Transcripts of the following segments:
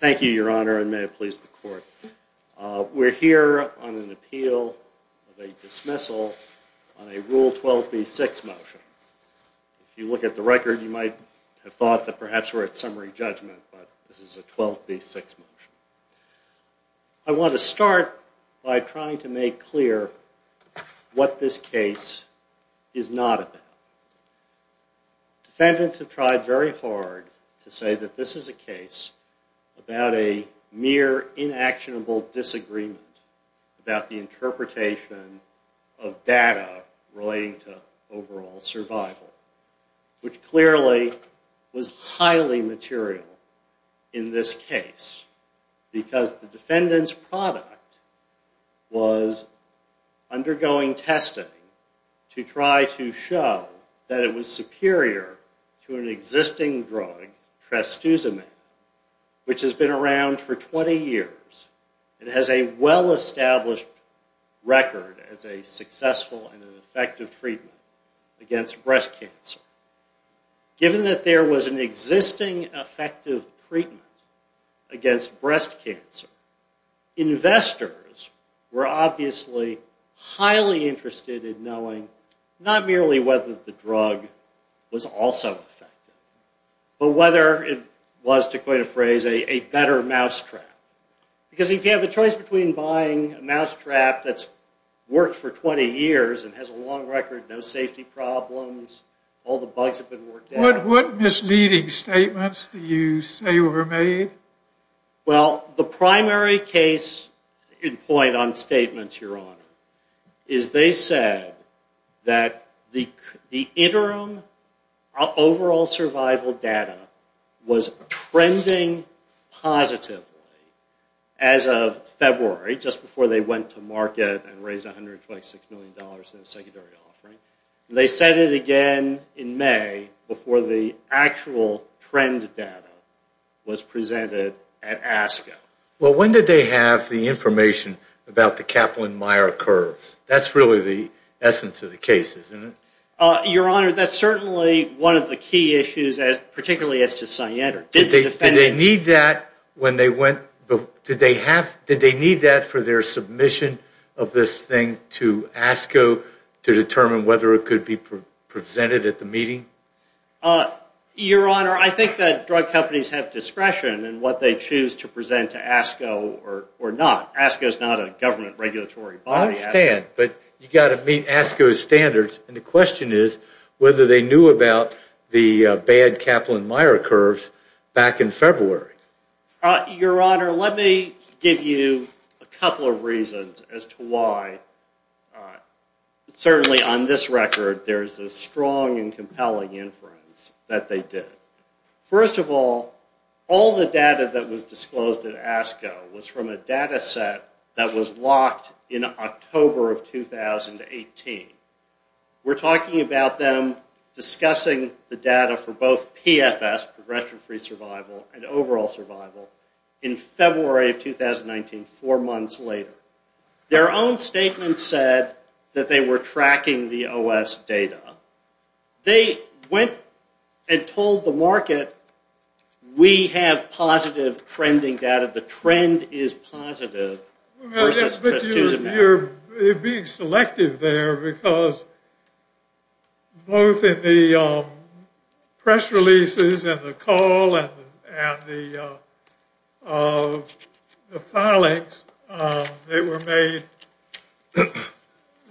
Thank you, Your Honor, and may it please the Court. We're here on an appeal of a dismissal on a Rule 12b-6 motion. If you look at the record, you might have thought that perhaps we're at summary judgment, but this is a 12b-6 motion. I want to start by trying to make clear what this case is not about. Defendants have tried very hard to say that this is a case about a mere inactionable disagreement about the interpretation of data relating to overall survival, which clearly was highly material in this case, because the defendant's product was undergoing testing to try to show that it was superior to an existing drug, trastuzumab, which has been around for 20 years and has a well-established record as a successful and effective treatment against breast cancer. Given that there was an existing effective treatment against breast cancer, investors were obviously highly interested in knowing, not merely whether the drug was also effective, but whether it was, to quote a phrase, a better mousetrap. Because if you have a choice between buying a mousetrap that's worked for 20 years and has a long record, no safety problems, all the bugs have been worked out. Well, the primary case in point on statements, Your Honor, is they said that the interim overall survival data was trending positively as of February, just before they went to market and raised $126 million in a secondary offering. They said it again in May before the actual trend data was presented at ASCO. Well, when did they have the information about the Kaplan-Meyer curve? That's really the essence of the case, isn't it? Your Honor, that's certainly one of the key issues, particularly as to Cyanter. Did they need that for their submission of this thing to ASCO to determine whether or not it was effective? Whether it could be presented at the meeting? Your Honor, I think that drug companies have discretion in what they choose to present to ASCO or not. ASCO is not a government regulatory body. I understand, but you've got to meet ASCO's standards, and the question is whether they knew about the bad Kaplan-Meyer curves back in February. Your Honor, let me give you a couple of reasons as to why. Certainly on this record, there's a strong and compelling inference that they did. First of all, all the data that was disclosed at ASCO was from a data set that was locked in October of 2018. We're talking about them discussing the data for both PFS, progression-free survival, and overall survival, in February of 2019, four months later. Their own statement said that they were tracking the OS data. They went and told the market, we have positive trending data. The trend is positive, versus just using that. You're being selective there, because both in the press releases and the call and the filings, there's a lot of information that's out there.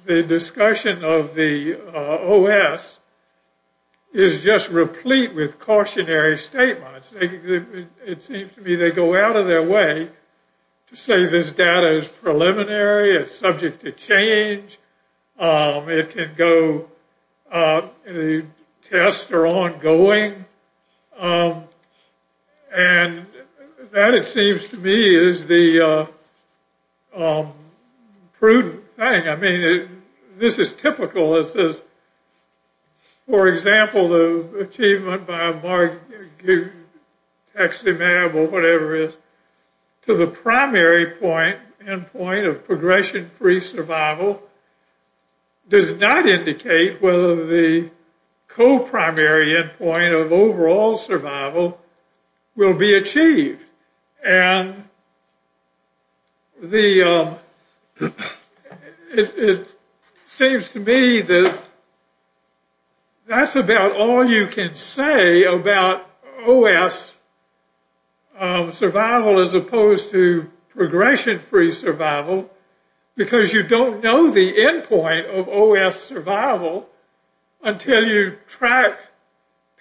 The discussion of the OS is just replete with cautionary statements. It seems to me they go out of their way to say this data is preliminary, it's subject to change, it can go, the tests are ongoing. And that, it seems to me, is the prudent thing. I mean, this is typical. For example, the achievement by a text e-mail, or whatever it is, to the primary endpoint of progression-free survival, does not indicate whether the co-primary endpoint of overall survival will be achieved. And it seems to me that that's about all you can say about OS survival, as opposed to progression-free survival, because you don't know the endpoint of OS survival until you track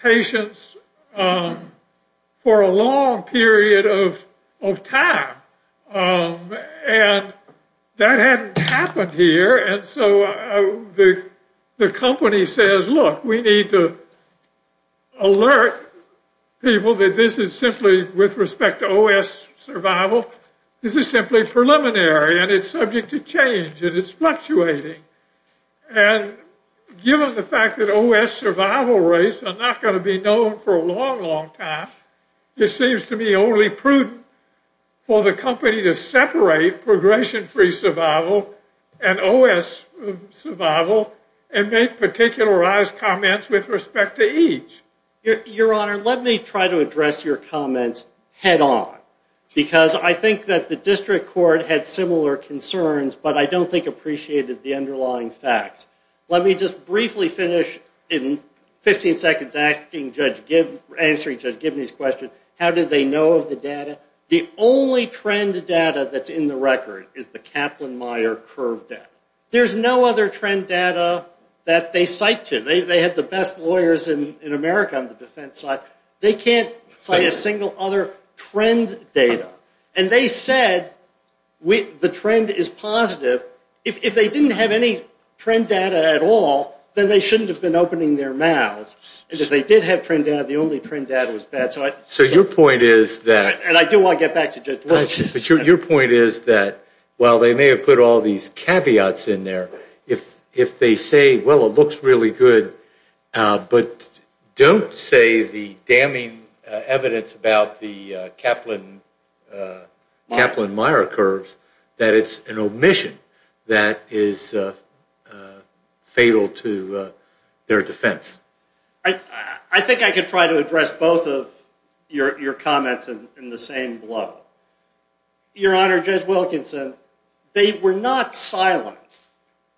patients for a long period of time. And that hasn't happened here, and so the company says, look, we need to alert people that this is simply, with respect to OS survival, this is simply preliminary. And it's subject to change, and it's fluctuating. And given the fact that OS survival rates are not going to be known for a long, long time, it seems to me only prudent for the company to separate progression-free survival and OS survival, and make particularized comments with respect to each. Your Honor, let me try to address your comments head-on. I have concerns, but I don't think appreciated the underlying facts. Let me just briefly finish in 15 seconds answering Judge Gibney's question, how did they know of the data? The only trend data that's in the record is the Kaplan-Meier curve data. There's no other trend data that they cite to. They have the best lawyers in America on the defense side. They can't cite a single other trend data. And they said the trend is positive. If they didn't have any trend data at all, then they shouldn't have been opening their mouths. If they did have trend data, the only trend data was bad. So your point is that while they may have put all these caveats in there, if they say, well, it looks really good, but don't say the damning evidence about the Kaplan-Meier curves, that it's an omission that is fatal to their defense. I think I can try to address both of your comments in the same blow. Your Honor, Judge Wilkinson, they were not silent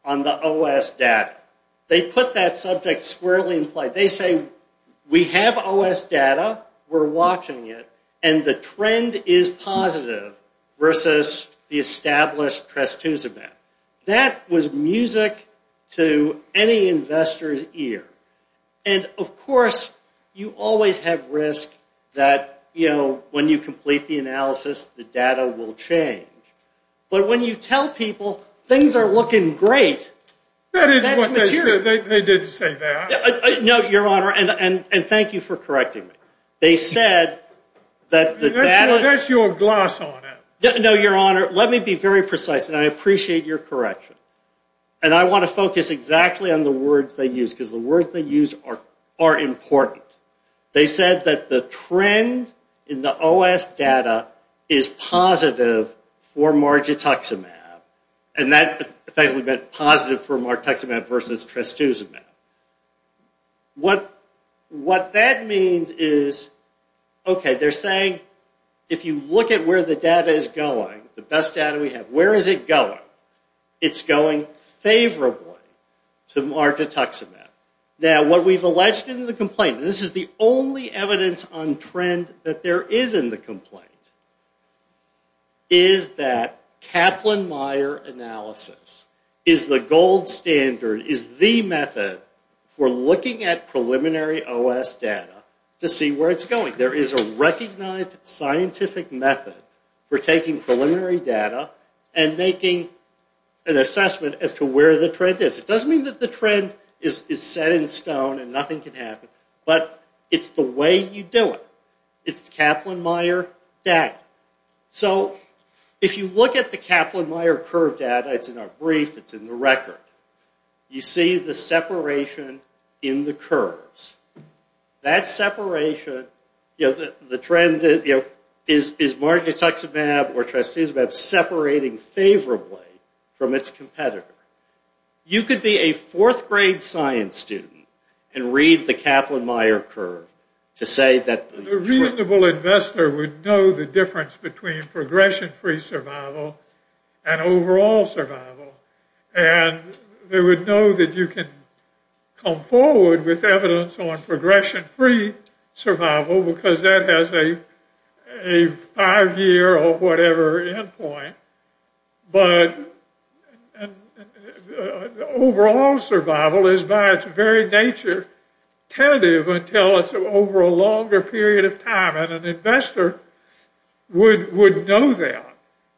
on the OS data. They put that subject squarely in play. They say we have OS data, we're watching it, and the trend is positive versus the established trastuzumab. That was music to any investor's ear. And of course, you always have risk that when you complete the analysis, the data will change. But when you tell people things are looking great, that's material. They didn't say that. No, Your Honor, and thank you for correcting me. That's your glass on it. No, Your Honor, let me be very precise, and I appreciate your correction. And I want to focus exactly on the words they used, because the words they used are important. They said that the trend in the OS data is positive for margituximab, and that effectively meant positive for margituximab versus trastuzumab. What that means is, okay, they're saying, if you look at where the data is going, the best data we have, where is it going? It's going favorably to margituximab. Now, what we've alleged in the complaint, and this is the only evidence on trend that there is in the complaint, is that Kaplan-Meier analysis is the gold standard, is the method for looking at preliminary OS data to see where it's going. There is a recognized scientific method for taking preliminary data and making an assessment as to where the trend is. It doesn't mean that the trend is set in stone and nothing can happen, but it's the way you do it. It's Kaplan-Meier data. So, if you look at the Kaplan-Meier curve data, it's in our brief, it's in the record, you see the separation in the curves. That separation, you know, the trend, you know, is margituximab or trastuzumab separating favorably from its competitor? You could be a fourth-grade science student and read the Kaplan-Meier curve to say that... A reasonable investor would know the difference between progression-free survival and overall survival, and they would know that you can come forward with evidence on progression-free survival because that has a five-year or whatever end point, but overall survival is by its very nature tentative until it's over a longer period of time, and an investor would know that.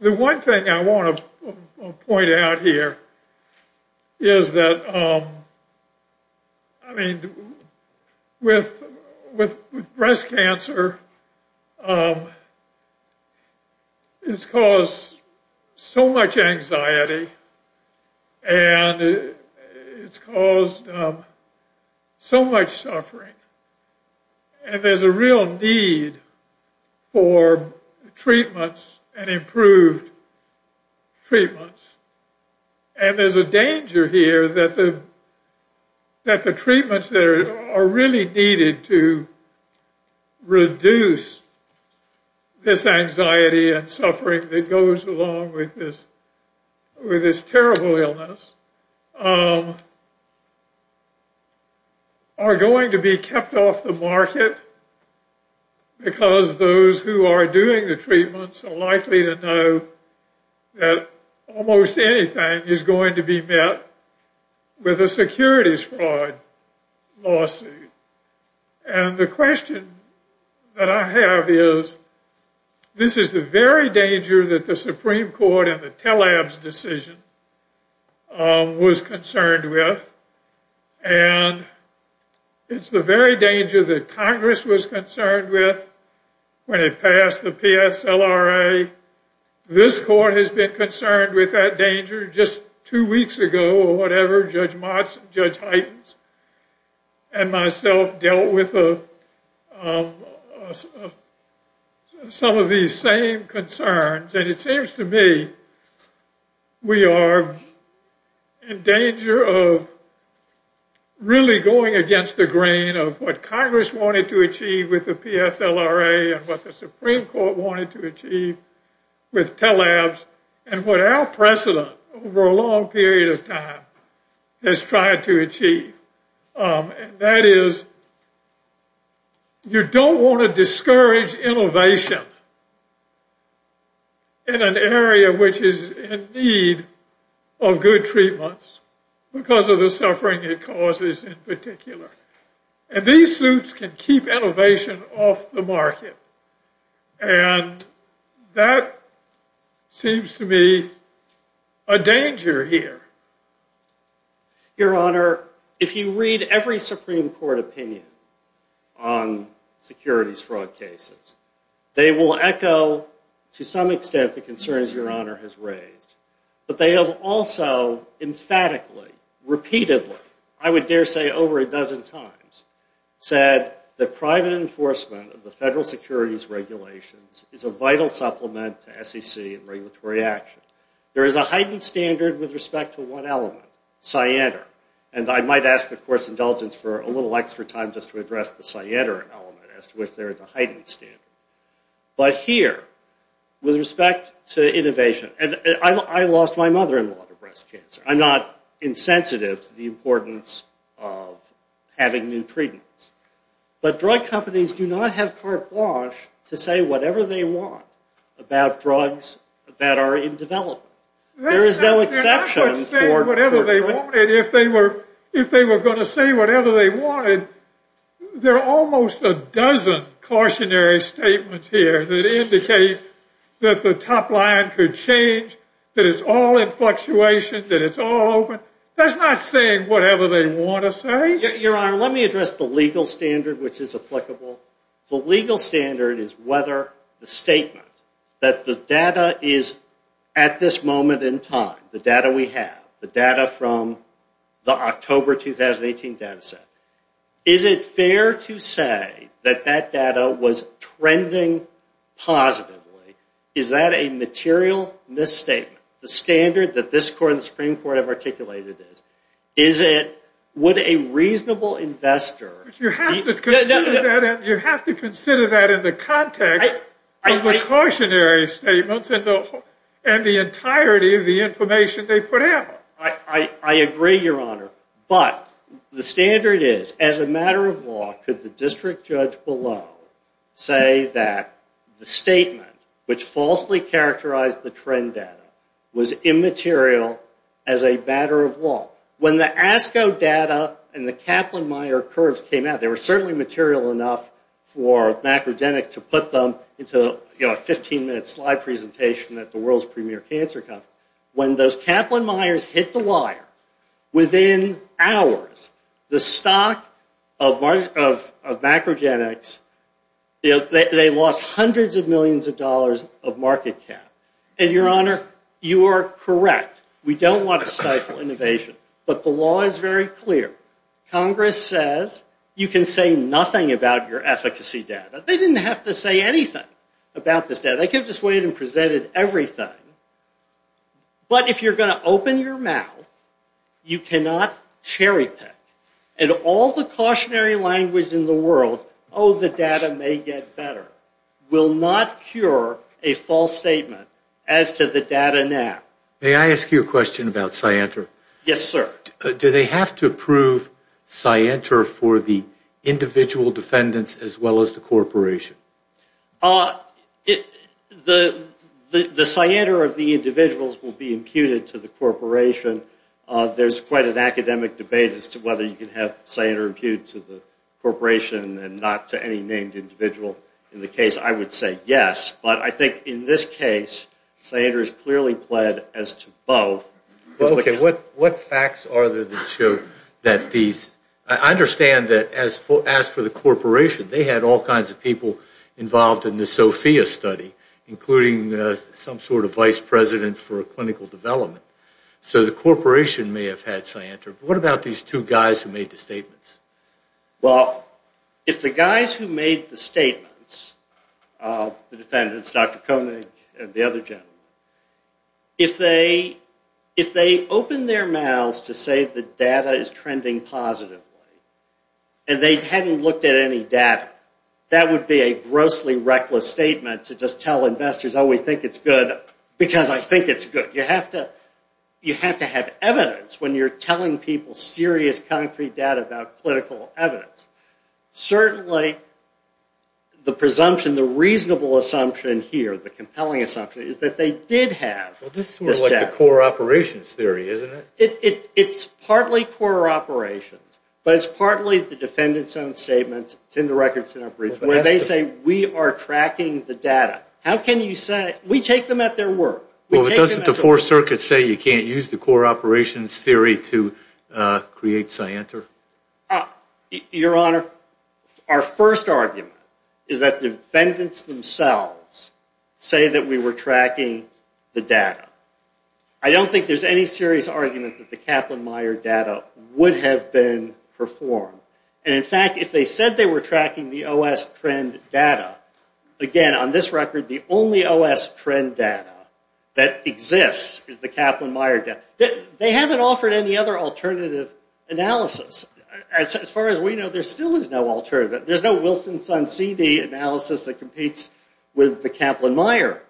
The one thing I want to point out here is that, I mean, with breast cancer, it's caused so much anxiety and it's caused so much suffering, and there's a real need for treatments and improved treatments, and there's a danger here that the treatments that are really needed to reduce this anxiety and suffering that goes along with this terrible illness are going to be kept off the market because those who are doing the treatments are likely to know that almost anything is going to be met with a securities fraud lawsuit, and the question that I have is, this is the very danger that the Supreme Court and the TLAB's decision was concerned with, and it's the very danger that Congress was concerned with when it passed the PSLRA. This court has been concerned with that danger just two weeks ago or whatever, Judge Heitens and myself dealt with some of these same concerns, and it seems to me we are in danger of really going against the grain of what Congress wanted to achieve with the PSLRA and what the Supreme Court wanted to achieve with TLAB's, and what our precedent over a long period of time has tried to achieve, and that is you don't want to discourage innovation. In an area which is in need of good treatments because of the suffering it causes in particular, and these suits can keep innovation off the market, and that seems to me a danger here. Your Honor, if you read every Supreme Court opinion on securities fraud cases, they will echo to some extent the concerns Your Honor has raised, but they have also emphatically, repeatedly, I would dare say over a dozen times, said that private enforcement of the federal securities regulations is a vital supplement to SEC and regulatory action. There is a heightened standard with respect to one element, cyander, and I might ask the Court's indulgence for a little extra time just to address the cyander element as to which there is a heightened standard, but here with respect to innovation, and I lost my mother-in-law to breast cancer. I'm not insensitive to the importance of having new treatments, but drug companies do not have carte blanche to say whatever they want about drugs that are in development. There is no exception. If they were going to say whatever they wanted, there are almost a dozen cautionary statements here that indicate that the top line could change, that it's all in fluctuation, that it's all open. That's not saying whatever they want to say. Your Honor, let me address the legal standard, which is applicable. The legal standard is whether the statement that the data is at this moment in time, the data we have, the data from the October 2018 data set, is it fair to say that that data was trending positively? Is that a material misstatement? The standard that this Court and the Supreme Court have articulated is, would a reasonable investor... You have to consider that in the context of the cautionary statements and the entirety of the information they put out. I agree, Your Honor, but the standard is, as a matter of law, could the district judge below say that the statement, which falsely characterized the trend data, was immaterial as a matter of law? When the ASCO data and the Kaplan-Meier curves came out, they were certainly material enough for macrogenics to put them into a 15-minute slide presentation at the World's Premier Cancer Conference. When those Kaplan-Meiers hit the wire, within hours, the stock of macrogenics, they lost hundreds of millions of dollars of market cap. Your Honor, you are correct. We don't want to stifle innovation. But the law is very clear. Congress says you can say nothing about your efficacy data. They didn't have to say anything about this data. They came this way and presented everything. But if you're going to open your mouth, you cannot cherry-pick. And all the cautionary language in the world, oh, the data may get better, will not cure a false statement as to the data now. May I ask you a question about Cyanter? Yes, sir. Do they have to approve Cyanter for the individual defendants as well as the corporation? The Cyanter of the individuals will be imputed to the corporation. There's quite an academic debate as to whether you can have Cyanter imputed to the corporation and not to any named individual. In the case, I would say yes. But I think in this case, Cyanter is clearly pled as to both. What facts are there that show that these – I understand that as for the corporation, they had all kinds of people involved in the SOFIA study, including some sort of vice president for clinical development. So the corporation may have had Cyanter. But what about these two guys who made the statements? Well, if the guys who made the statements, the defendants, Dr. Koenig and the other gentlemen, if they opened their mouths to say the data is trending positively and they hadn't looked at any data, that would be a grossly reckless statement to just tell investors, oh, we think it's good because I think it's good. You have to have evidence when you're telling people serious, concrete data about clinical evidence. Certainly, the presumption, the reasonable assumption here, the compelling assumption, is that they did have this data. Well, this is sort of like the core operations theory, isn't it? It's partly core operations, but it's partly the defendants' own statements. It's in the records in our brief. When they say, we are tracking the data, how can you say – we take them at their word. Well, doesn't the Fourth Circuit say you can't use the core operations theory to create Cyanter? Your Honor, our first argument is that the defendants themselves say that we were tracking the data. I don't think there's any serious argument that the Kaplan-Meier data would have been performed. And in fact, if they said they were tracking the OS trend data, again, on this record, the only OS trend data that exists is the Kaplan-Meier data. They haven't offered any other alternative analysis. As far as we know, there still is no alternative. There's no Wilson-Son-Seedee analysis that competes with the Kaplan-Meier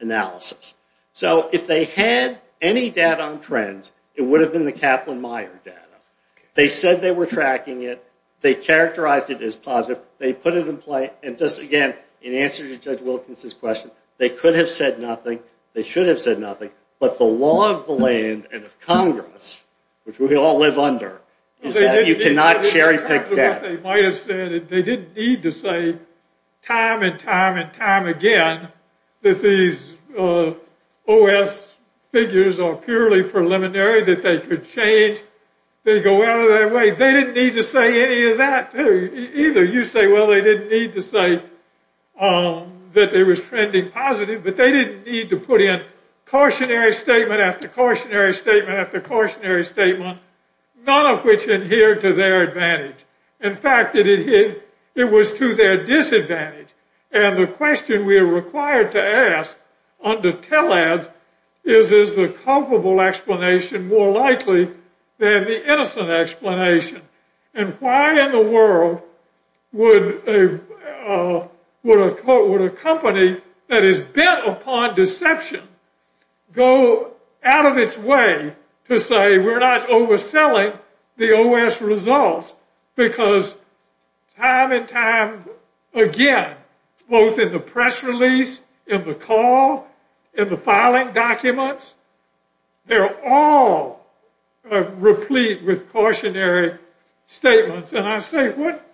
analysis. So if they had any data on trends, it would have been the Kaplan-Meier data. They said they were tracking it. They characterized it as positive. They put it in play. And just again, in answer to Judge Wilkins' question, they could have said nothing. They should have said nothing. But the law of the land and of Congress, which we all live under, is that you cannot cherry-pick that. They didn't need to say time and time and time again that these OS figures are purely preliminary, that they could change, they go out of their way. They didn't need to say any of that either. You say, well, they didn't need to say that they were trending positive, but they didn't need to put in cautionary statement after cautionary statement after cautionary statement, none of which adhered to their advantage. In fact, it was to their disadvantage. And the question we are required to ask under TELADS is, is the culpable explanation more likely than the innocent explanation? And why in the world would a company that is bent upon deception go out of its way to say, we're not overselling the OS results because time and time again, both in the press release, in the call, in the filing documents, they're all replete with cautionary statements. And I say what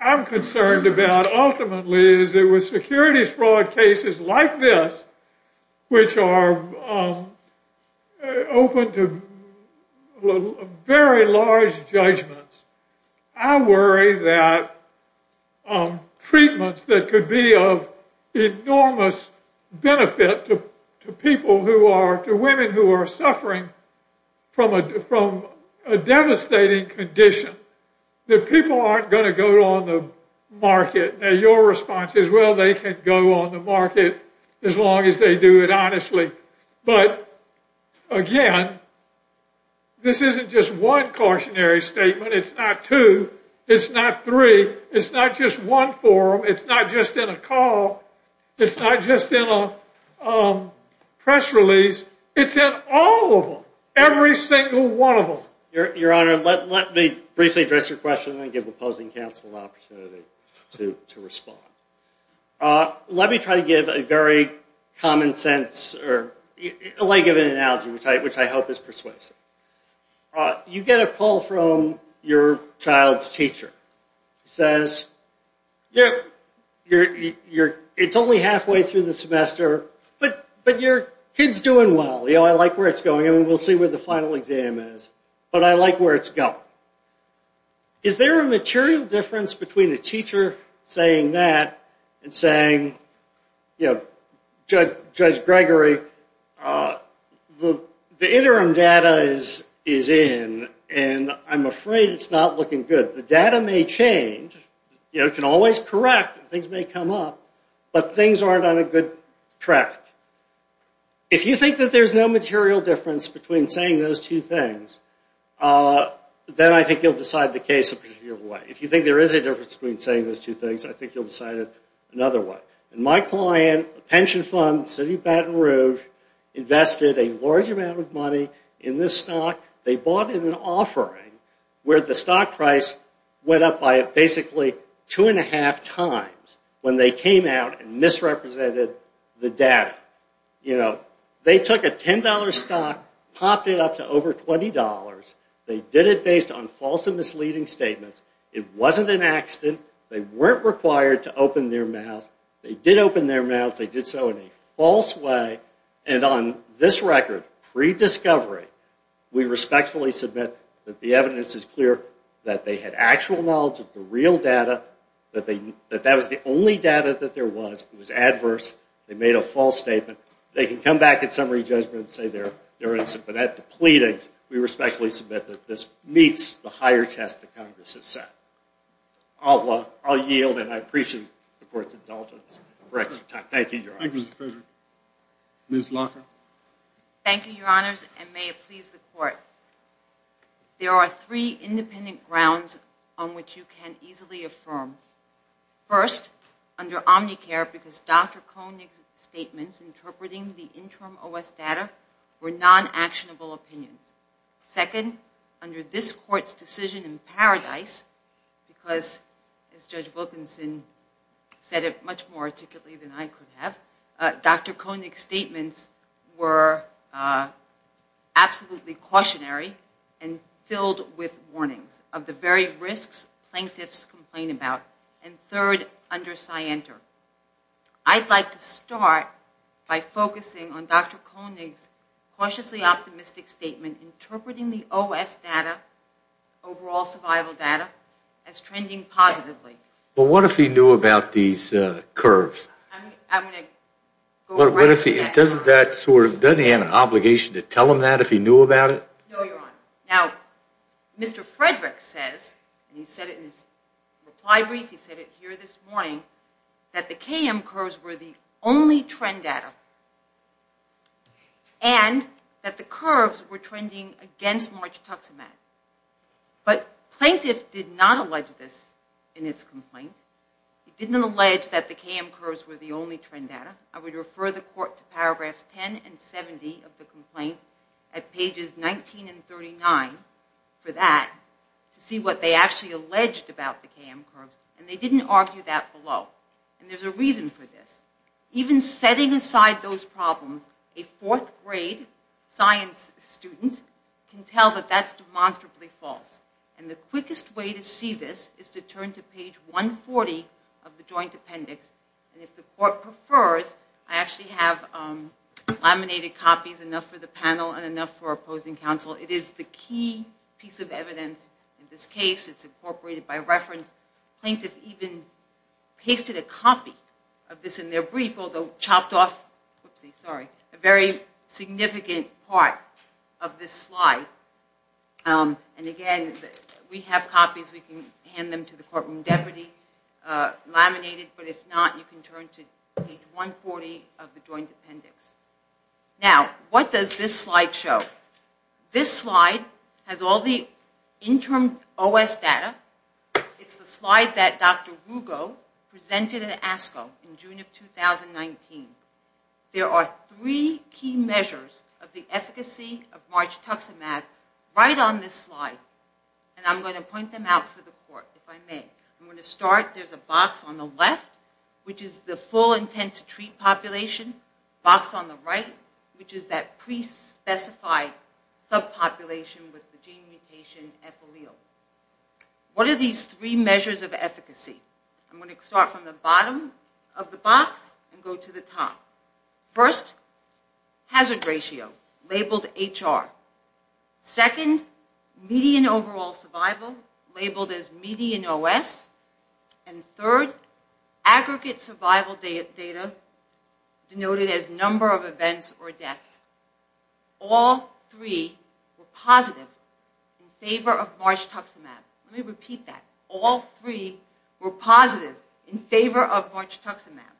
I'm concerned about ultimately is that with security fraud cases like this, which are open to very large judgments, I worry that treatments that could be of enormous benefit to people who are, to women who are suffering from a devastating condition, that people aren't going to go on the market. Now, your response is, well, they can go on the market as long as they do it honestly. But, again, this isn't just one cautionary statement. It's not two. It's not three. It's not just one forum. It's not just in a call. It's not just in a press release. It's in all of them, every single one of them. Your Honor, let me briefly address your question and then give opposing counsel an opportunity to respond. Let me try to give a very common sense or a leg of an analogy, which I hope is persuasive. You get a call from your child's teacher. He says, it's only halfway through the semester, but your kid's doing well. I like where it's going. We'll see where the final exam is. But I like where it's going. Is there a material difference between a teacher saying that and saying, Judge Gregory, the interim data is in, and I'm afraid it's not looking good. The data may change. It can always correct. Things may come up. But things aren't on a good track. If you think that there's no material difference between saying those two things, then I think you'll decide the case a particular way. If you think there is a difference between saying those two things, I think you'll decide it another way. My client, a pension fund, City of Baton Rouge, invested a large amount of money in this stock. They bought it in an offering, where the stock price went up by basically two and a half times when they came out and misrepresented the data. They took a $10 stock, popped it up to over $20. They did it based on false and misleading statements. It wasn't an accident. They weren't required to open their mouths. They did open their mouths. They did so in a false way. And on this record, pre-discovery, we respectfully submit that the evidence is clear that they had actual knowledge of the real data, that that was the only data that there was. It was adverse. They made a false statement. They can come back at summary judgment and say they're innocent. But at the pleadings, we respectfully submit that this meets the higher test that Congress has set. I'll yield, and I appreciate the Court's indulgence. We're out of time. Thank you, Your Honors. Thank you, Mr. President. Ms. Locker? Thank you, Your Honors, and may it please the Court. There are three independent grounds on which you can easily affirm. First, under Omnicare, because Dr. Koenig's statements interpreting the interim OS data were non-actionable opinions. Second, under this Court's decision in Paradise, because, as Judge Wilkinson said it much more articulately than I could have, Dr. Koenig's statements were absolutely cautionary and filled with warnings of the very risks plaintiffs complain about. And third, under Scienter, I'd like to start by focusing on Dr. Koenig's cautiously optimistic statement interpreting the OS data, overall survival data, as trending positively. But what if he knew about these curves? I'm going to go right to that. Doesn't he have an obligation to tell them that if he knew about it? No, Your Honor. Now, Mr. Frederick says, and he said it in his reply brief, he said it here this morning, that the KM curves were the only trend data and that the curves were trending against March tuxedos. But plaintiff did not allege this in its complaint. He didn't allege that the KM curves were the only trend data. I'm going to look at pages 19 and 39 for that to see what they actually alleged about the KM curves. And they didn't argue that below. And there's a reason for this. Even setting aside those problems, a fourth grade science student can tell that that's demonstrably false. And the quickest way to see this is to turn to page 140 of the joint appendix. And if the court prefers, I actually have laminated copies, enough for the panel and enough for opposing counsel. It is the key piece of evidence in this case. It's incorporated by reference. Plaintiff even pasted a copy of this in their brief, although chopped off a very significant part of this slide. And, again, we have copies. We can hand them to the courtroom deputy laminated. But if not, you can turn to page 140 of the joint appendix. Now, what does this slide show? This slide has all the interim OS data. It's the slide that Dr. Rugo presented at ASCO in June of 2019. There are three key measures of the efficacy of margituximab right on this slide. And I'm going to point them out for the court, if I may. I'm going to start. There's a box on the left, which is the full intent to treat population. Box on the right, which is that pre-specified subpopulation with the gene mutation epithelial. What are these three measures of efficacy? I'm going to start from the bottom of the box and go to the top. First, hazard ratio, labeled HR. Second, median overall survival, labeled as median OS. And third, aggregate survival data, denoted as number of events or deaths. All three were positive in favor of margituximab. Let me repeat that. All three were positive in favor of margituximab.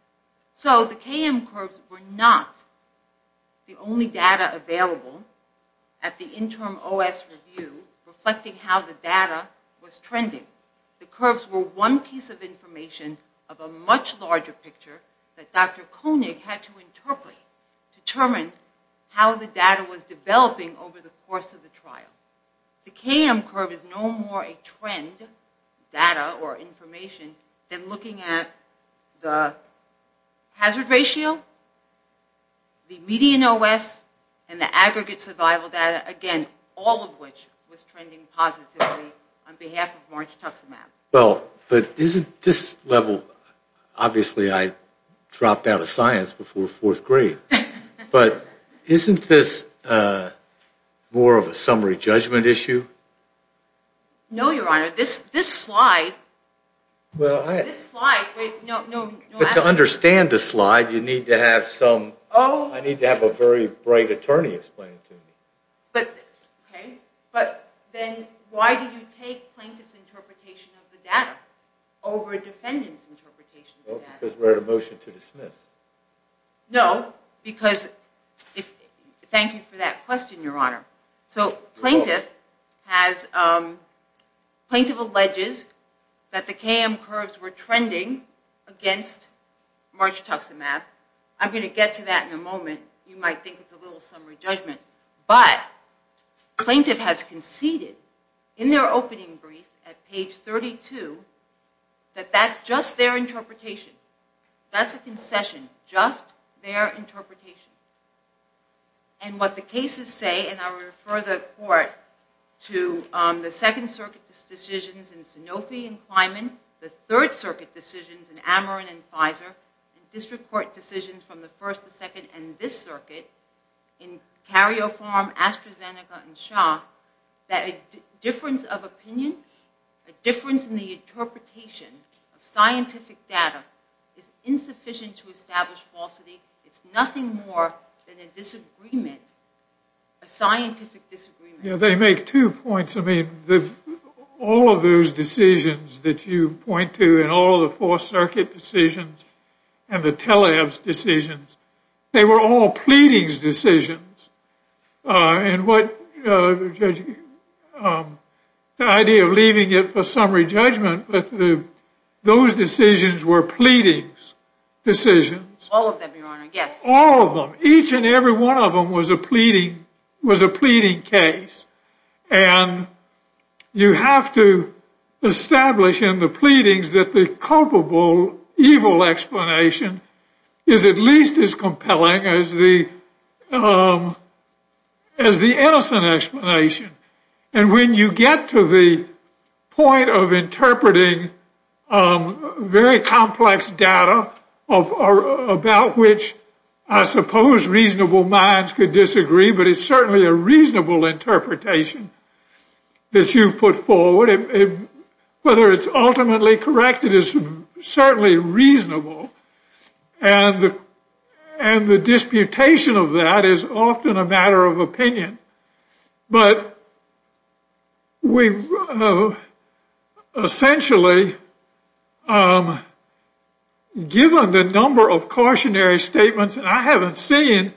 So the KM curves were not the only data available at the interim OS review reflecting how the data was trending. The curves were one piece of information of a much larger picture that Dr. Koenig had to interpret, determine how the data was developing over the course of the trial. The KM curve is no more a trend data or information than looking at the hazard ratio, the median OS, and the aggregate survival data, again, all of which was trending positively on behalf of margituximab. Well, but isn't this level, obviously I dropped out of science before fourth grade, but isn't this more of a summary judgment issue? No, Your Honor. This slide, this slide, no matter. But to understand this slide, you need to have some, I need to have a very bright attorney explain it to me. Okay, but then why do you take plaintiff's interpretation of the data over defendant's interpretation of the data? Because we're at a motion to dismiss. No, because, thank you for that question, Your Honor. So plaintiff has, plaintiff alleges that the KM curves were trending against margituximab. I'm going to get to that in a moment. You might think it's a little summary judgment. But plaintiff has conceded in their opening brief at page 32 that that's just their interpretation. That's a concession, just their interpretation. And what the cases say, and I'll refer the court to the Second Circuit decisions in Sanofi and Kleinman, the Third Circuit decisions in Ameren and Pfizer, and district court decisions from the First, the Second, and this circuit in Cario Farm, AstraZeneca, and Shaw, that a difference of opinion, a difference in the interpretation of scientific data is insufficient to establish falsity. It's nothing more than a disagreement, a scientific disagreement. Yeah, they make two points. I mean, all of those decisions that you point to and all of the Fourth Circuit decisions and the telehealth decisions, they were all pleadings decisions. And the idea of leaving it for summary judgment, those decisions were pleadings decisions. All of them, Your Honor, yes. All of them. Each and every one of them was a pleading case. And you have to establish in the pleadings that the culpable evil explanation is at least as compelling as the innocent explanation. And when you get to the point of interpreting very complex data about which I suppose reasonable minds could disagree, but it's certainly a reasonable interpretation that you've put forward, whether it's ultimately correct, it is certainly reasonable. And the disputation of that is often a matter of opinion. But we've essentially given the number of cautionary statements, and I haven't seen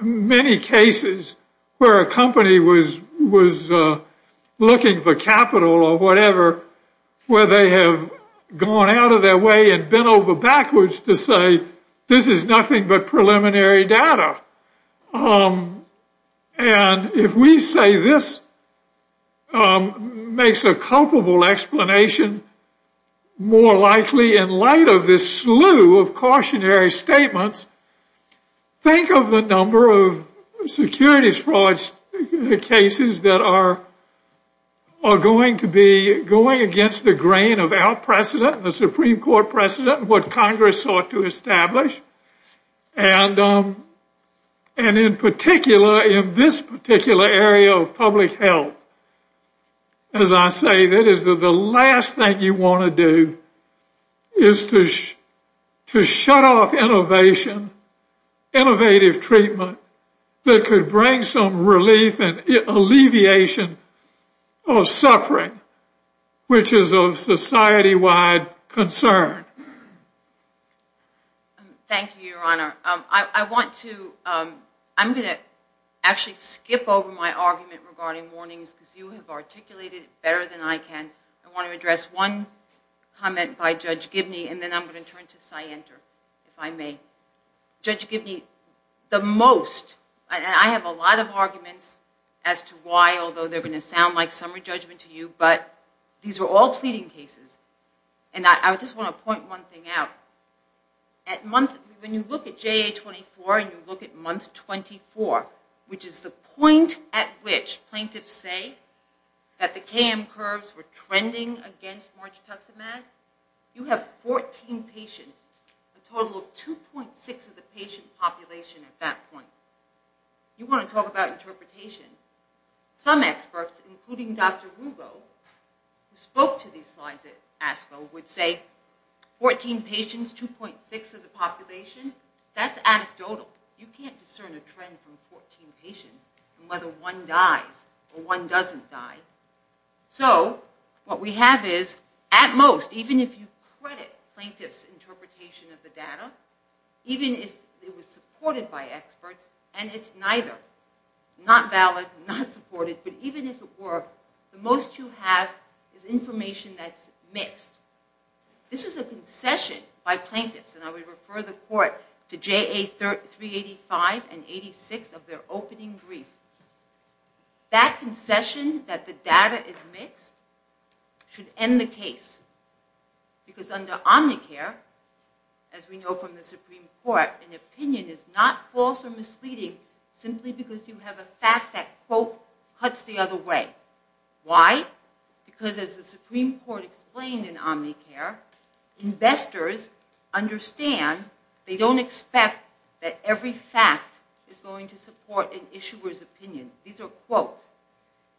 many cases where a company was looking for capital or whatever where they have gone out of their way and bent over backwards to say this is nothing but preliminary data. And if we say this makes a culpable explanation more likely in light of this slew of cautionary statements, think of the number of securities fraud cases that are going to be going against the grain of our precedent, the Supreme Court precedent, what Congress sought to establish. And in particular, in this particular area of public health, as I say, that is the last thing you want to do is to shut off innovation, innovative treatment that could bring some relief and alleviation of suffering, which is of society-wide concern. Thank you, Your Honor. I want to, I'm going to actually skip over my argument regarding warnings because you have articulated it better than I can. I want to address one comment by Judge Gibney, and then I'm going to turn to Scienter, if I may. Judge Gibney, the most, and I have a lot of arguments as to why, although they're going to sound like summary judgment to you, but these are all pleading cases, and I just want to point one thing out. At month, when you look at JA-24 and you look at month 24, which is the point at which plaintiffs say that the KM curves were trending against margituximab, you have 14 patients, a total of 2.6 of the patient population at that point. You want to talk about interpretation. Some experts, including Dr. Rubo, who spoke to these slides at ASCO, would say 14 patients, 2.6 of the population, that's anecdotal. You can't discern a trend from 14 patients and whether one dies or one doesn't die. So what we have is, at most, even if you credit plaintiffs' interpretation of the data, even if it was supported by experts, and it's neither, not valid, not supported, but even if it were, the most you have is information that's mixed. This is a concession by plaintiffs, and I would refer the court to JA-385 and 86 of their opening brief. That concession, that the data is mixed, should end the case. Because under Omnicare, as we know from the Supreme Court, an opinion is not false or misleading simply because you have a fact that, quote, cuts the other way. Why? Because, as the Supreme Court explained in Omnicare, investors understand, they don't expect that every fact is going to support an issuer's opinion. These are quotes.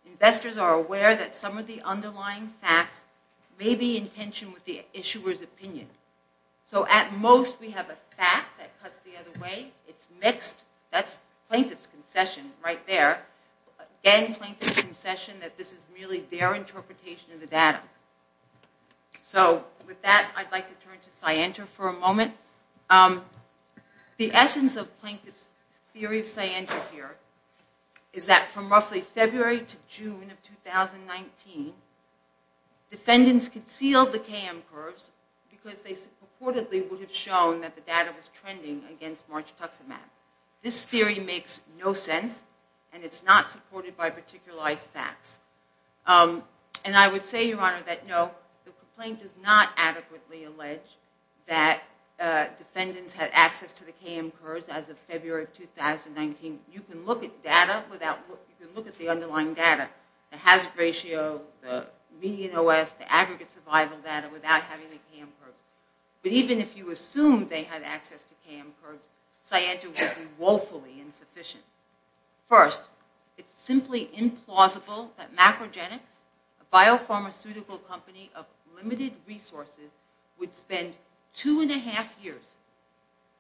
Investors are aware that some of the underlying facts may be in tension with the issuer's opinion. So, at most, we have a fact that cuts the other way. It's mixed. That's plaintiff's concession right there. Again, plaintiff's concession that this is really their interpretation of the data. So, with that, I'd like to turn to Scienter for a moment. The essence of plaintiff's theory of Scienter here is that from roughly February to June of 2019, defendants concealed the KM curves because they purportedly would have shown that the data was trending against March Tuxen map. This theory makes no sense, and it's not supported by particularized facts. And I would say, Your Honor, that no, the complaint does not adequately allege that defendants had access to the KM curves as of February of 2019. You can look at the underlying data, the hazard ratio, the median OS, the aggregate survival data, without having the KM curves. But even if you assume they had access to KM curves, Scienter would be woefully insufficient. First, it's simply implausible that Macrogenics, a biopharmaceutical company of limited resources, would spend two and a half years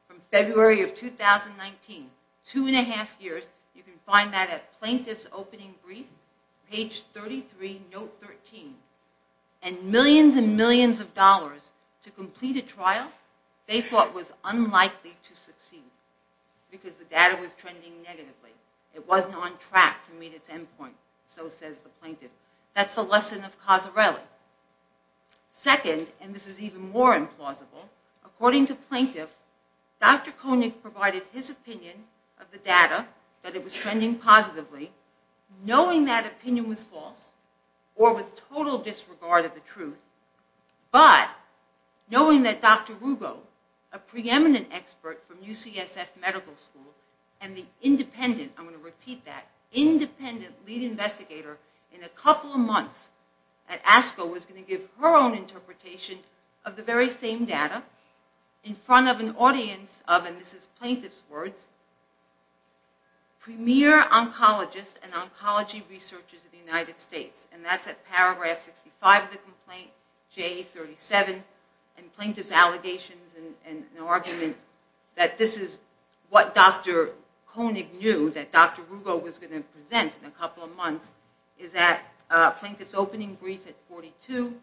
from February of 2019, two and a half years. You can find that at plaintiff's opening brief, page 33, note 13. And millions and millions of dollars to complete a trial they thought was unlikely to succeed because the data was trending negatively. It wasn't on track to meet its end point, so says the plaintiff. That's the lesson of Casarelli. Second, and this is even more implausible, according to plaintiff, Dr. Koenig provided his opinion of the data, that it was trending positively, knowing that opinion was false, or with total disregard of the truth, but knowing that Dr. Rugo, a preeminent expert from UCSF Medical School, and the independent, I'm going to repeat that, independent lead investigator, in a couple of months at ASCO was going to give her own interpretation of the very same data in front of an audience of, and this is plaintiff's words, premier oncologists and oncology researchers of the United States. And that's at paragraph 65 of the complaint, JA37, and plaintiff's allegations and argument that this is what Dr. Koenig knew that Dr. Rugo was going to present in a couple of months is at plaintiff's opening brief at 42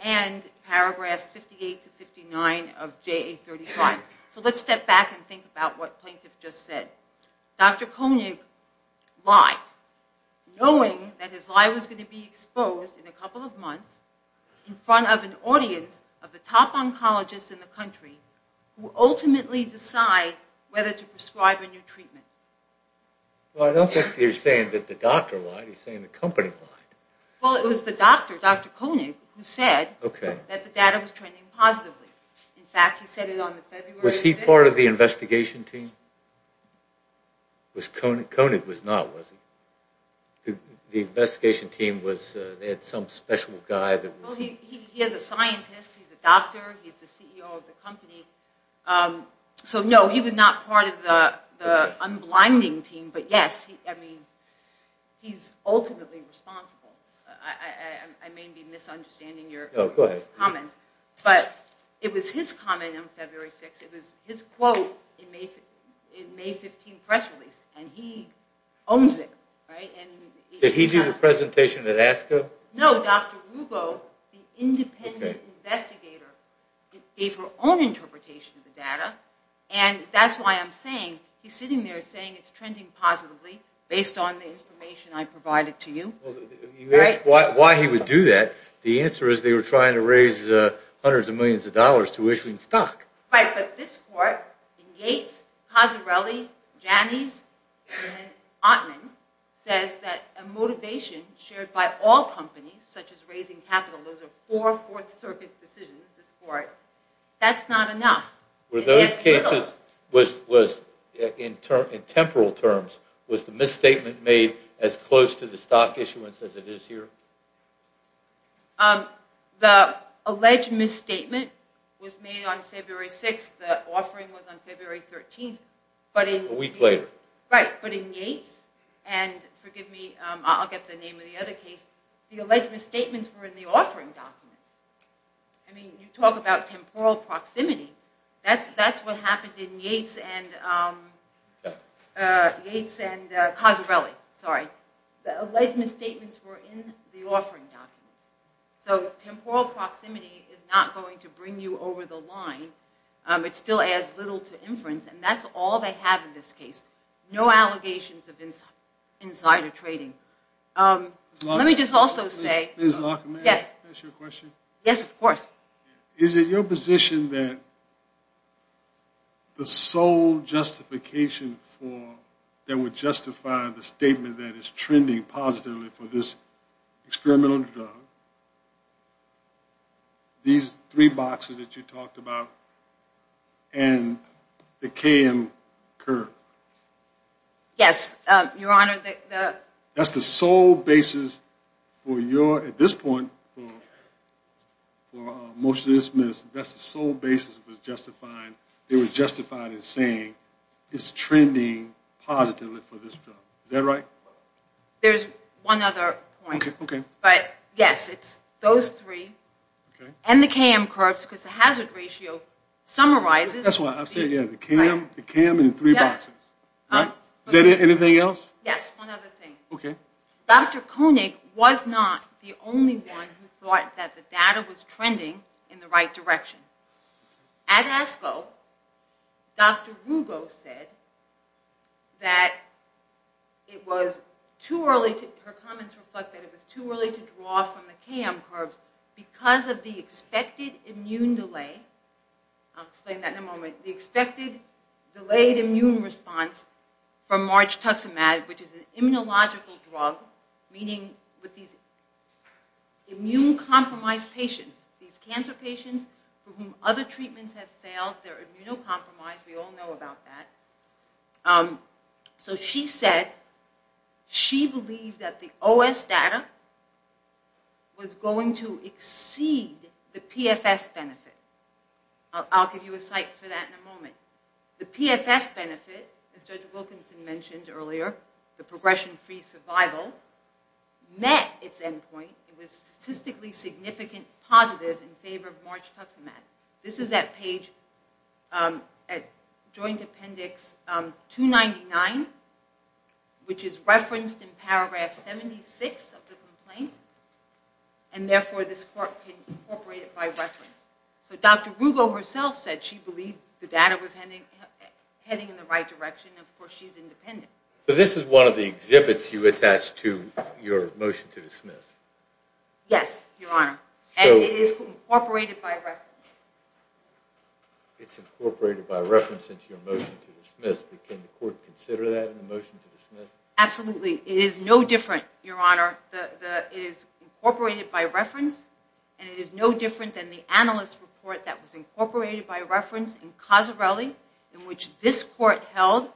and paragraphs 58 to 59 of JA35. So let's step back and think about what plaintiff just said. Dr. Koenig lied, knowing that his lie was going to be exposed in a couple of months in front of an audience of the top oncologists in the country who ultimately decide whether to prescribe a new treatment. Well, I don't think he's saying that the doctor lied, he's saying the company lied. Well, it was the doctor, Dr. Koenig, who said that the data was trending positively. In fact, he said it on the February 6th. Was he part of the investigation team? Koenig was not, was he? The investigation team had some special guy that was... Well, he is a scientist, he's a doctor, he's the CEO of the company. So no, he was not part of the unblinding team, but yes, I mean, he's ultimately responsible. I may be misunderstanding your comments. Oh, go ahead. But it was his comment on February 6th, it was his quote in May 15 press release, and he owns it, right? Did he do the presentation at ASCA? No, Dr. Rubo, the independent investigator, gave her own interpretation of the data, and that's why I'm saying, he's sitting there saying it's trending positively based on the information I provided to you. Well, you asked why he would do that. The answer is they were trying to raise hundreds of millions of dollars to issue stock. Right, but this court, Gates, Casarelli, Janneys, and Ottman, says that a motivation shared by all companies, such as raising capital, those are four Fourth Circuit decisions, this court, that's not enough. Were those cases, in temporal terms, was the misstatement made as close to the stock issuance as it is here? The alleged misstatement was made on February 6th, the offering was on February 13th. A week later. Right, but in Gates, and forgive me, I'll get the name of the other case, the alleged misstatements were in the offering documents. I mean, you talk about temporal proximity, that's what happened in Gates and Casarelli, sorry. The alleged misstatements were in the offering documents. So temporal proximity is not going to bring you over the line. It still adds little to inference, and that's all they have in this case. No allegations of insider trading. Let me just also say, yes, of course. Is it your position that the sole justification for, that would justify the statement that is trending positively for this experimental drug, these three boxes that you talked about, and the KM curve? Yes, Your Honor. That's the sole basis for your, at this point, for motion to dismiss, that's the sole basis that was justified in saying it's trending positively for this drug. Is that right? There's one other point. Okay, okay. But yes, it's those three, and the KM curves, because the hazard ratio summarizes. That's why I said, yeah, the KM and the three boxes. Is there anything else? Yes, one other thing. Okay. Dr. Koenig was not the only one who thought that the data was trending in the right direction. At ASCO, Dr. Rugo said that it was too early, her comments reflect that it was too early to draw from the KM curves because of the expected immune delay. I'll explain that in a moment. The expected delayed immune response from margituximab, which is an immunological drug, meaning with these immune-compromised patients, these cancer patients for whom other treatments have failed, they're immunocompromised, we all know about that. So she said she believed that the OS data was going to exceed the PFS benefit. I'll give you a cite for that in a moment. The PFS benefit, as Judge Wilkinson mentioned earlier, the progression-free survival, met its end point. It was statistically significant positive in favor of margituximab. This is that page at joint appendix 299, which is referenced in paragraph 76 of the complaint, and therefore this court can incorporate it by reference. So Dr. Rugo herself said she believed the data was heading in the right direction, and, of course, she's independent. So this is one of the exhibits you attached to your motion to dismiss? Yes, Your Honor, and it is incorporated by reference. It's incorporated by reference into your motion to dismiss, but can the court consider that in the motion to dismiss? Absolutely. It is no different, Your Honor. It is incorporated by reference, and it is no different than the analyst report that was incorporated by reference in Casarelli, in which this court held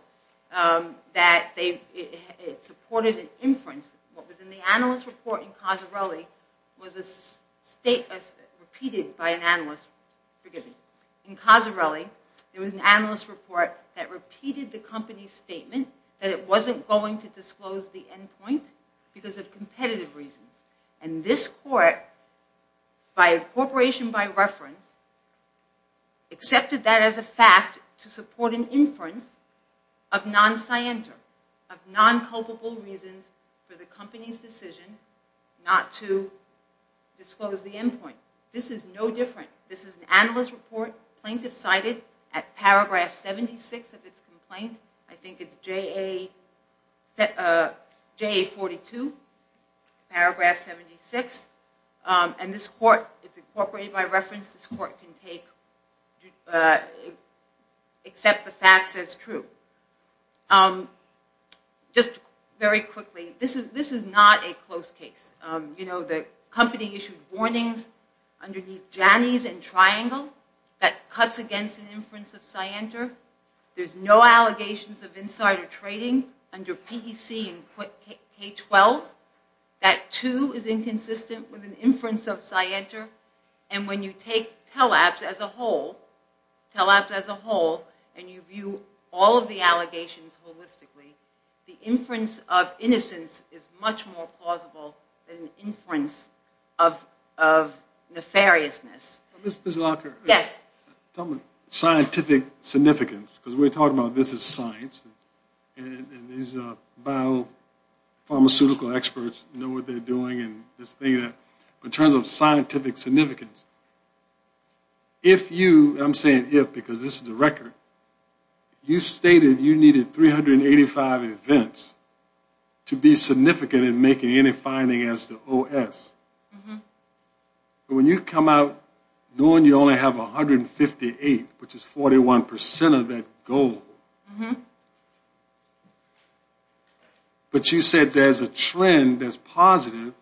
that it supported an inference. What was in the analyst report in Casarelli was repeated by an analyst. Forgive me. In Casarelli, there was an analyst report that repeated the company's statement that it wasn't going to disclose the end point because of competitive reasons, and this court, by incorporation by reference, accepted that as a fact to support an inference of non scienter, of non culpable reasons for the company's decision not to disclose the end point. This is no different. This is an analyst report plaintiff cited at paragraph 76 of its complaint. I think it's JA42, paragraph 76, and this court is incorporated by reference. This court can accept the facts as true. Just very quickly, this is not a close case. You know, the company issued warnings underneath Janney's and Triangle that cuts against an inference of scienter. There's no allegations of insider trading under PEC and K12. That, too, is inconsistent with an inference of scienter, and when you take TELAPS as a whole, TELAPS as a whole, and you view all of the allegations holistically, the inference of innocence is much more plausible than an inference of nefariousness. Ms. Locker. Yes. Scientific significance, because we're talking about this is science, and these biopharmaceutical experts know what they're doing, but in terms of scientific significance, if you, and I'm saying if because this is a record, you stated you needed 385 events to be significant in making any finding as to OS, but when you come out knowing you only have 158, which is 41% of that goal, but you said there's a trend that's positive,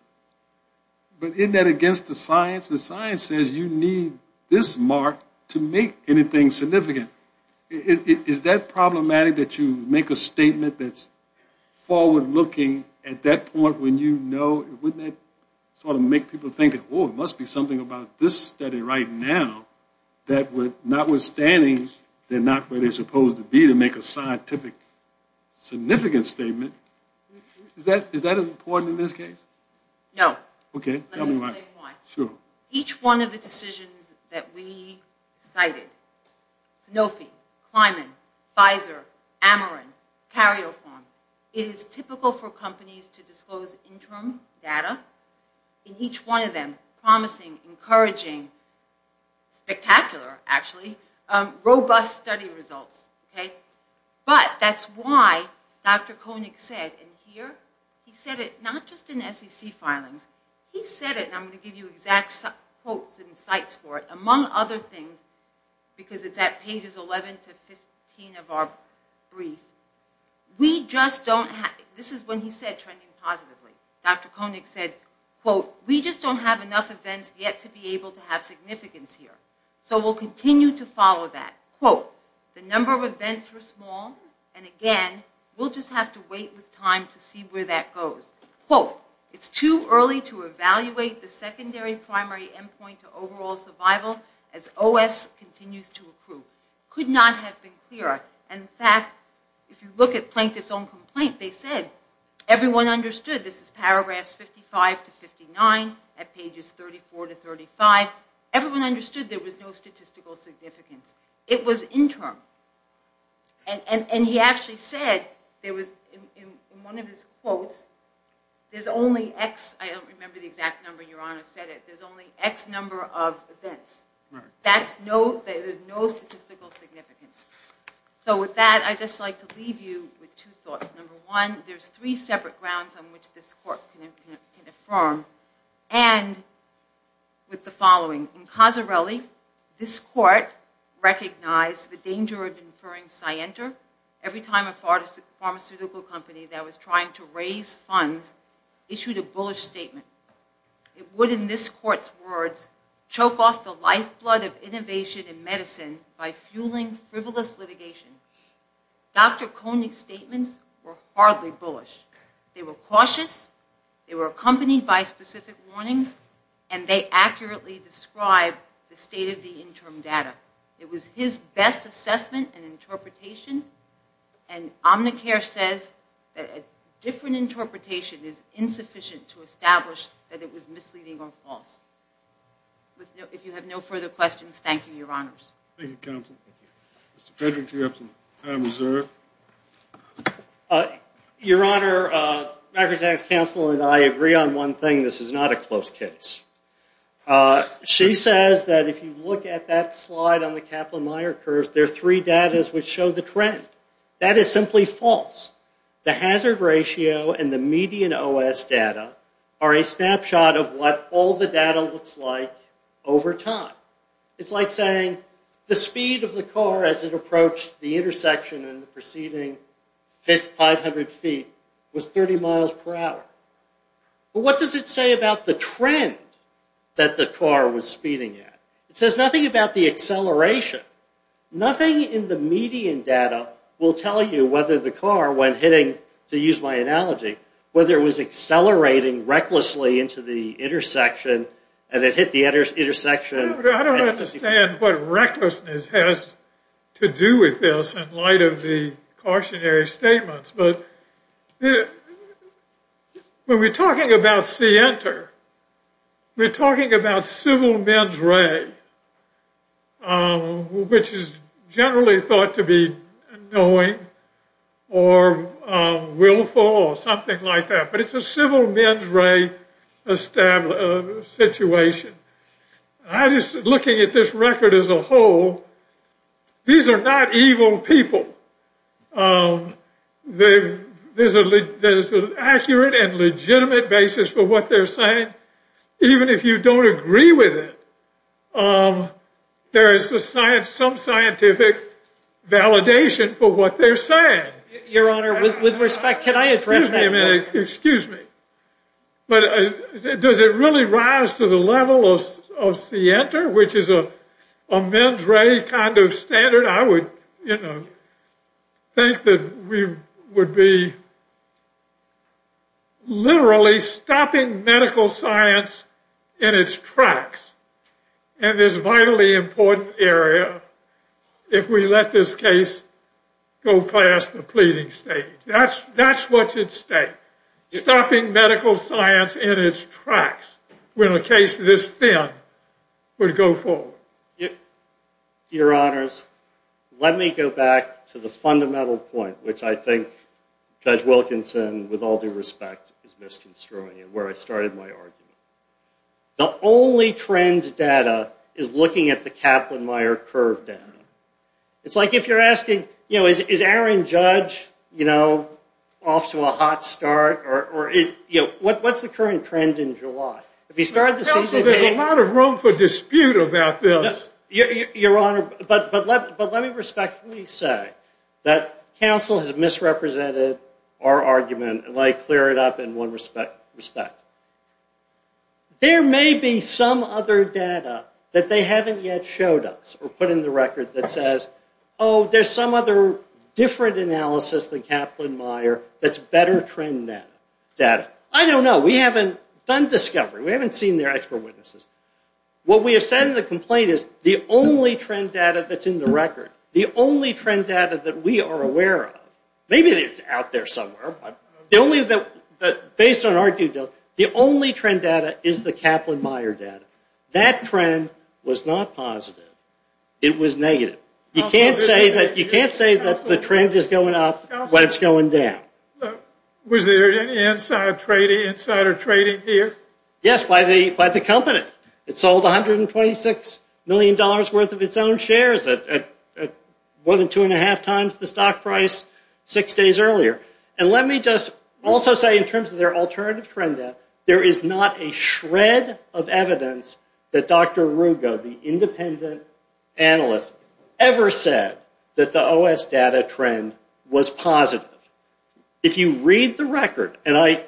but isn't that against the science? The science says you need this mark to make anything significant. Is that problematic that you make a statement that's forward-looking at that point when you know, wouldn't that sort of make people think, oh, it must be something about this study right now that notwithstanding they're not where they're supposed to be to make a scientific significant statement, is that important in this case? No. Okay, tell me why. Let me say why. Sure. Each one of the decisions that we cited, Sanofi, Kleinman, Pfizer, Ameren, Carioform, it is typical for companies to disclose interim data, promising, encouraging, spectacular actually, robust study results. But that's why Dr. Koenig said, and here he said it not just in SEC filings, he said it, and I'm going to give you exact quotes and insights for it, among other things, because it's at pages 11 to 15 of our brief, we just don't have, this is when he said trending positively. Dr. Koenig said, quote, we just don't have enough events yet to be able to have significance here, so we'll continue to follow that. Quote, the number of events were small, and again, we'll just have to wait with time to see where that goes. Quote, it's too early to evaluate the secondary primary endpoint to overall survival as OS continues to improve. Could not have been clearer. In fact, if you look at Plankett's own complaint, they said everyone understood, this is paragraphs 55 to 59 at pages 34 to 35, everyone understood there was no statistical significance. It was interim, and he actually said, in one of his quotes, there's only X, I don't remember the exact number, Your Honor said it, there's only X number of events. There's no statistical significance. So with that, I'd just like to leave you with two thoughts. Number one, there's three separate grounds on which this court can affirm, and with the following. In Casarelli, this court recognized the danger of inferring Scienter every time a pharmaceutical company that was trying to raise funds issued a bullish statement. It would, in this court's words, choke off the lifeblood of innovation in medicine by fueling frivolous litigation. Dr. Koenig's statements were hardly bullish. They were cautious, they were accompanied by specific warnings, and they accurately described the state of the interim data. It was his best assessment and interpretation, and Omnicare says that a different interpretation is insufficient to establish that it was misleading or false. If you have no further questions, thank you, Your Honors. Thank you, Counsel. Mr. Frederick, do you have some time reserved? Your Honor, the Microtax Counsel and I agree on one thing, this is not a close case. She says that if you look at that slide on the Kaplan-Meier curve, there are three datas which show the trend. That is simply false. The hazard ratio and the median OS data are a snapshot of what all the data looks like over time. It's like saying the speed of the car as it approached the intersection in the preceding 500 feet was 30 miles per hour. But what does it say about the trend that the car was speeding at? It says nothing about the acceleration. Nothing in the median data will tell you whether the car, when hitting, to use my analogy, whether it was accelerating recklessly into the intersection and it hit the intersection. I don't understand what recklessness has to do with this in light of the cautionary statements. But when we're talking about Sienter, we're talking about civil mens re, which is generally thought to be knowing or willful or something like that. But it's a civil mens re situation. Looking at this record as a whole, these are not evil people. There's an accurate and legitimate basis for what they're saying. Even if you don't agree with it, there is some scientific validation for what they're saying. Your Honor, with respect, can I address that? Excuse me. But does it really rise to the level of Sienter, which is a mens re kind of standard? I would think that we would be literally stopping medical science in its tracks in this vitally important area if we let this case go past the pleading stage. That's what's at stake, stopping medical science in its tracks when a case this thin would go forward. Your Honors, let me go back to the fundamental point, which I think Judge Wilkinson, with all due respect, is misconstruing, where I started my argument. The only trend data is looking at the Kaplan-Meier curve down. It's like if you're asking, is Aaron Judge off to a hot start? What's the current trend in July? Counsel, there's a lot of room for dispute about this. Your Honor, but let me respectfully say that counsel has misrepresented our argument. Let me clear it up in one respect. There may be some other data that they haven't yet showed us or put in the record that says, oh, there's some other different analysis than Kaplan-Meier that's better trend data. I don't know. We haven't done discovery. We haven't seen their expert witnesses. What we have said in the complaint is the only trend data that's in the record, the only trend data that we are aware of, maybe it's out there somewhere, based on our due diligence, the only trend data is the Kaplan-Meier data. That trend was not positive. It was negative. You can't say that the trend is going up when it's going down. Was there any insider trading here? Yes, by the company. It sold $126 million worth of its own shares at more than two and a half times the stock price six days earlier. And let me just also say in terms of their alternative trend data, there is not a shred of evidence that Dr. Rugo, the independent analyst, ever said that the OS data trend was positive. If you read the record, and I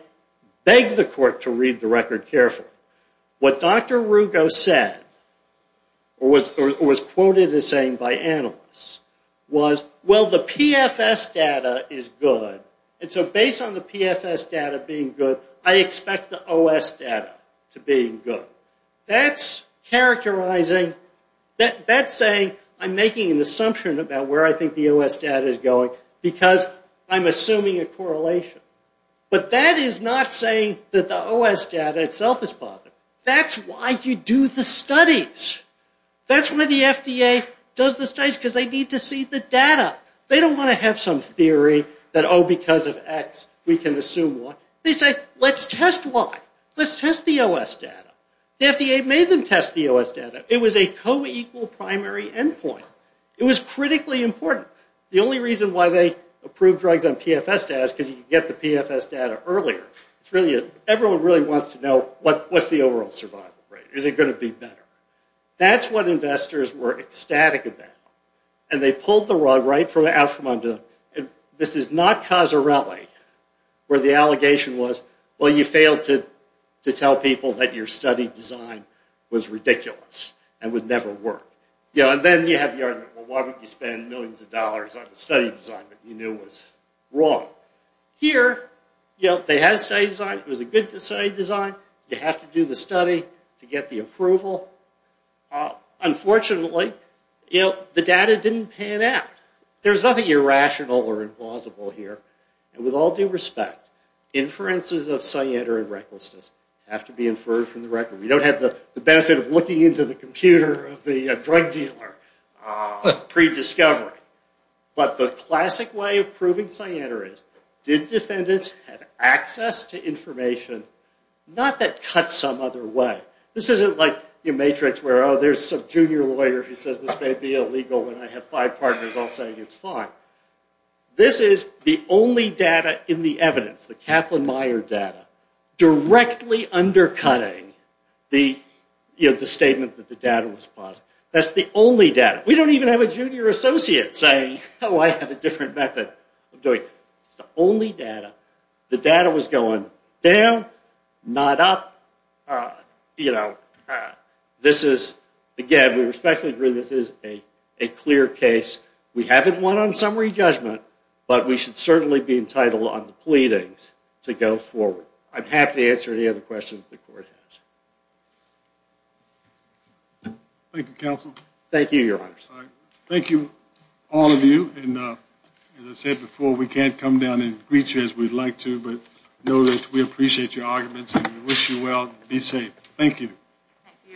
beg the court to read the record carefully, what Dr. Rugo said or was quoted as saying by analysts was, well, the PFS data is good. And so based on the PFS data being good, I expect the OS data to be good. That's characterizing, that's saying I'm making an assumption about where I think the OS data is going because I'm assuming a correlation. But that is not saying that the OS data itself is positive. That's why you do the studies. That's why the FDA does the studies because they need to see the data. They don't want to have some theory that, oh, because of X, we can assume Y. They say, let's test Y. Let's test the OS data. The FDA made them test the OS data. It was a co-equal primary endpoint. It was critically important. The only reason why they approve drugs on PFS data is because you get the PFS data earlier. Everyone really wants to know what's the overall survival rate. Is it going to be better? That's what investors were ecstatic about. And they pulled the rug right out from under them. This is not Casarelli where the allegation was, well, you failed to tell people that your study design was ridiculous and would never work. And then you have the argument, well, why would you spend millions of dollars on a study design that you knew was wrong? Here, they had a study design. It was a good study design. You have to do the study to get the approval. Unfortunately, the data didn't pan out. There's nothing irrational or implausible here. And with all due respect, inferences of sciatica and recklessness have to be inferred from the record. We don't have the benefit of looking into the computer of the drug dealer pre-discovery. But the classic way of proving sciatica is, did defendants have access to information? Not that cuts some other way. This isn't like your matrix where, oh, there's some junior lawyer who says this may be illegal and I have five partners all saying it's fine. This is the only data in the evidence, the Kaplan-Meier data, directly undercutting the statement that the data was plausible. That's the only data. We don't even have a junior associate saying, oh, I have a different method of doing it. It's the only data. The data was going down, not up. This is, again, we respectfully agree this is a clear case. We haven't won on summary judgment, but we should certainly be entitled on the pleadings to go forward. I'm happy to answer any other questions the court has. Thank you, counsel. Thank you, Your Honor. Thank you, all of you. And as I said before, we can't come down and greet you as we'd like to, but know that we appreciate your arguments and wish you well. Be safe. Thank you. Thank you, Your Honor.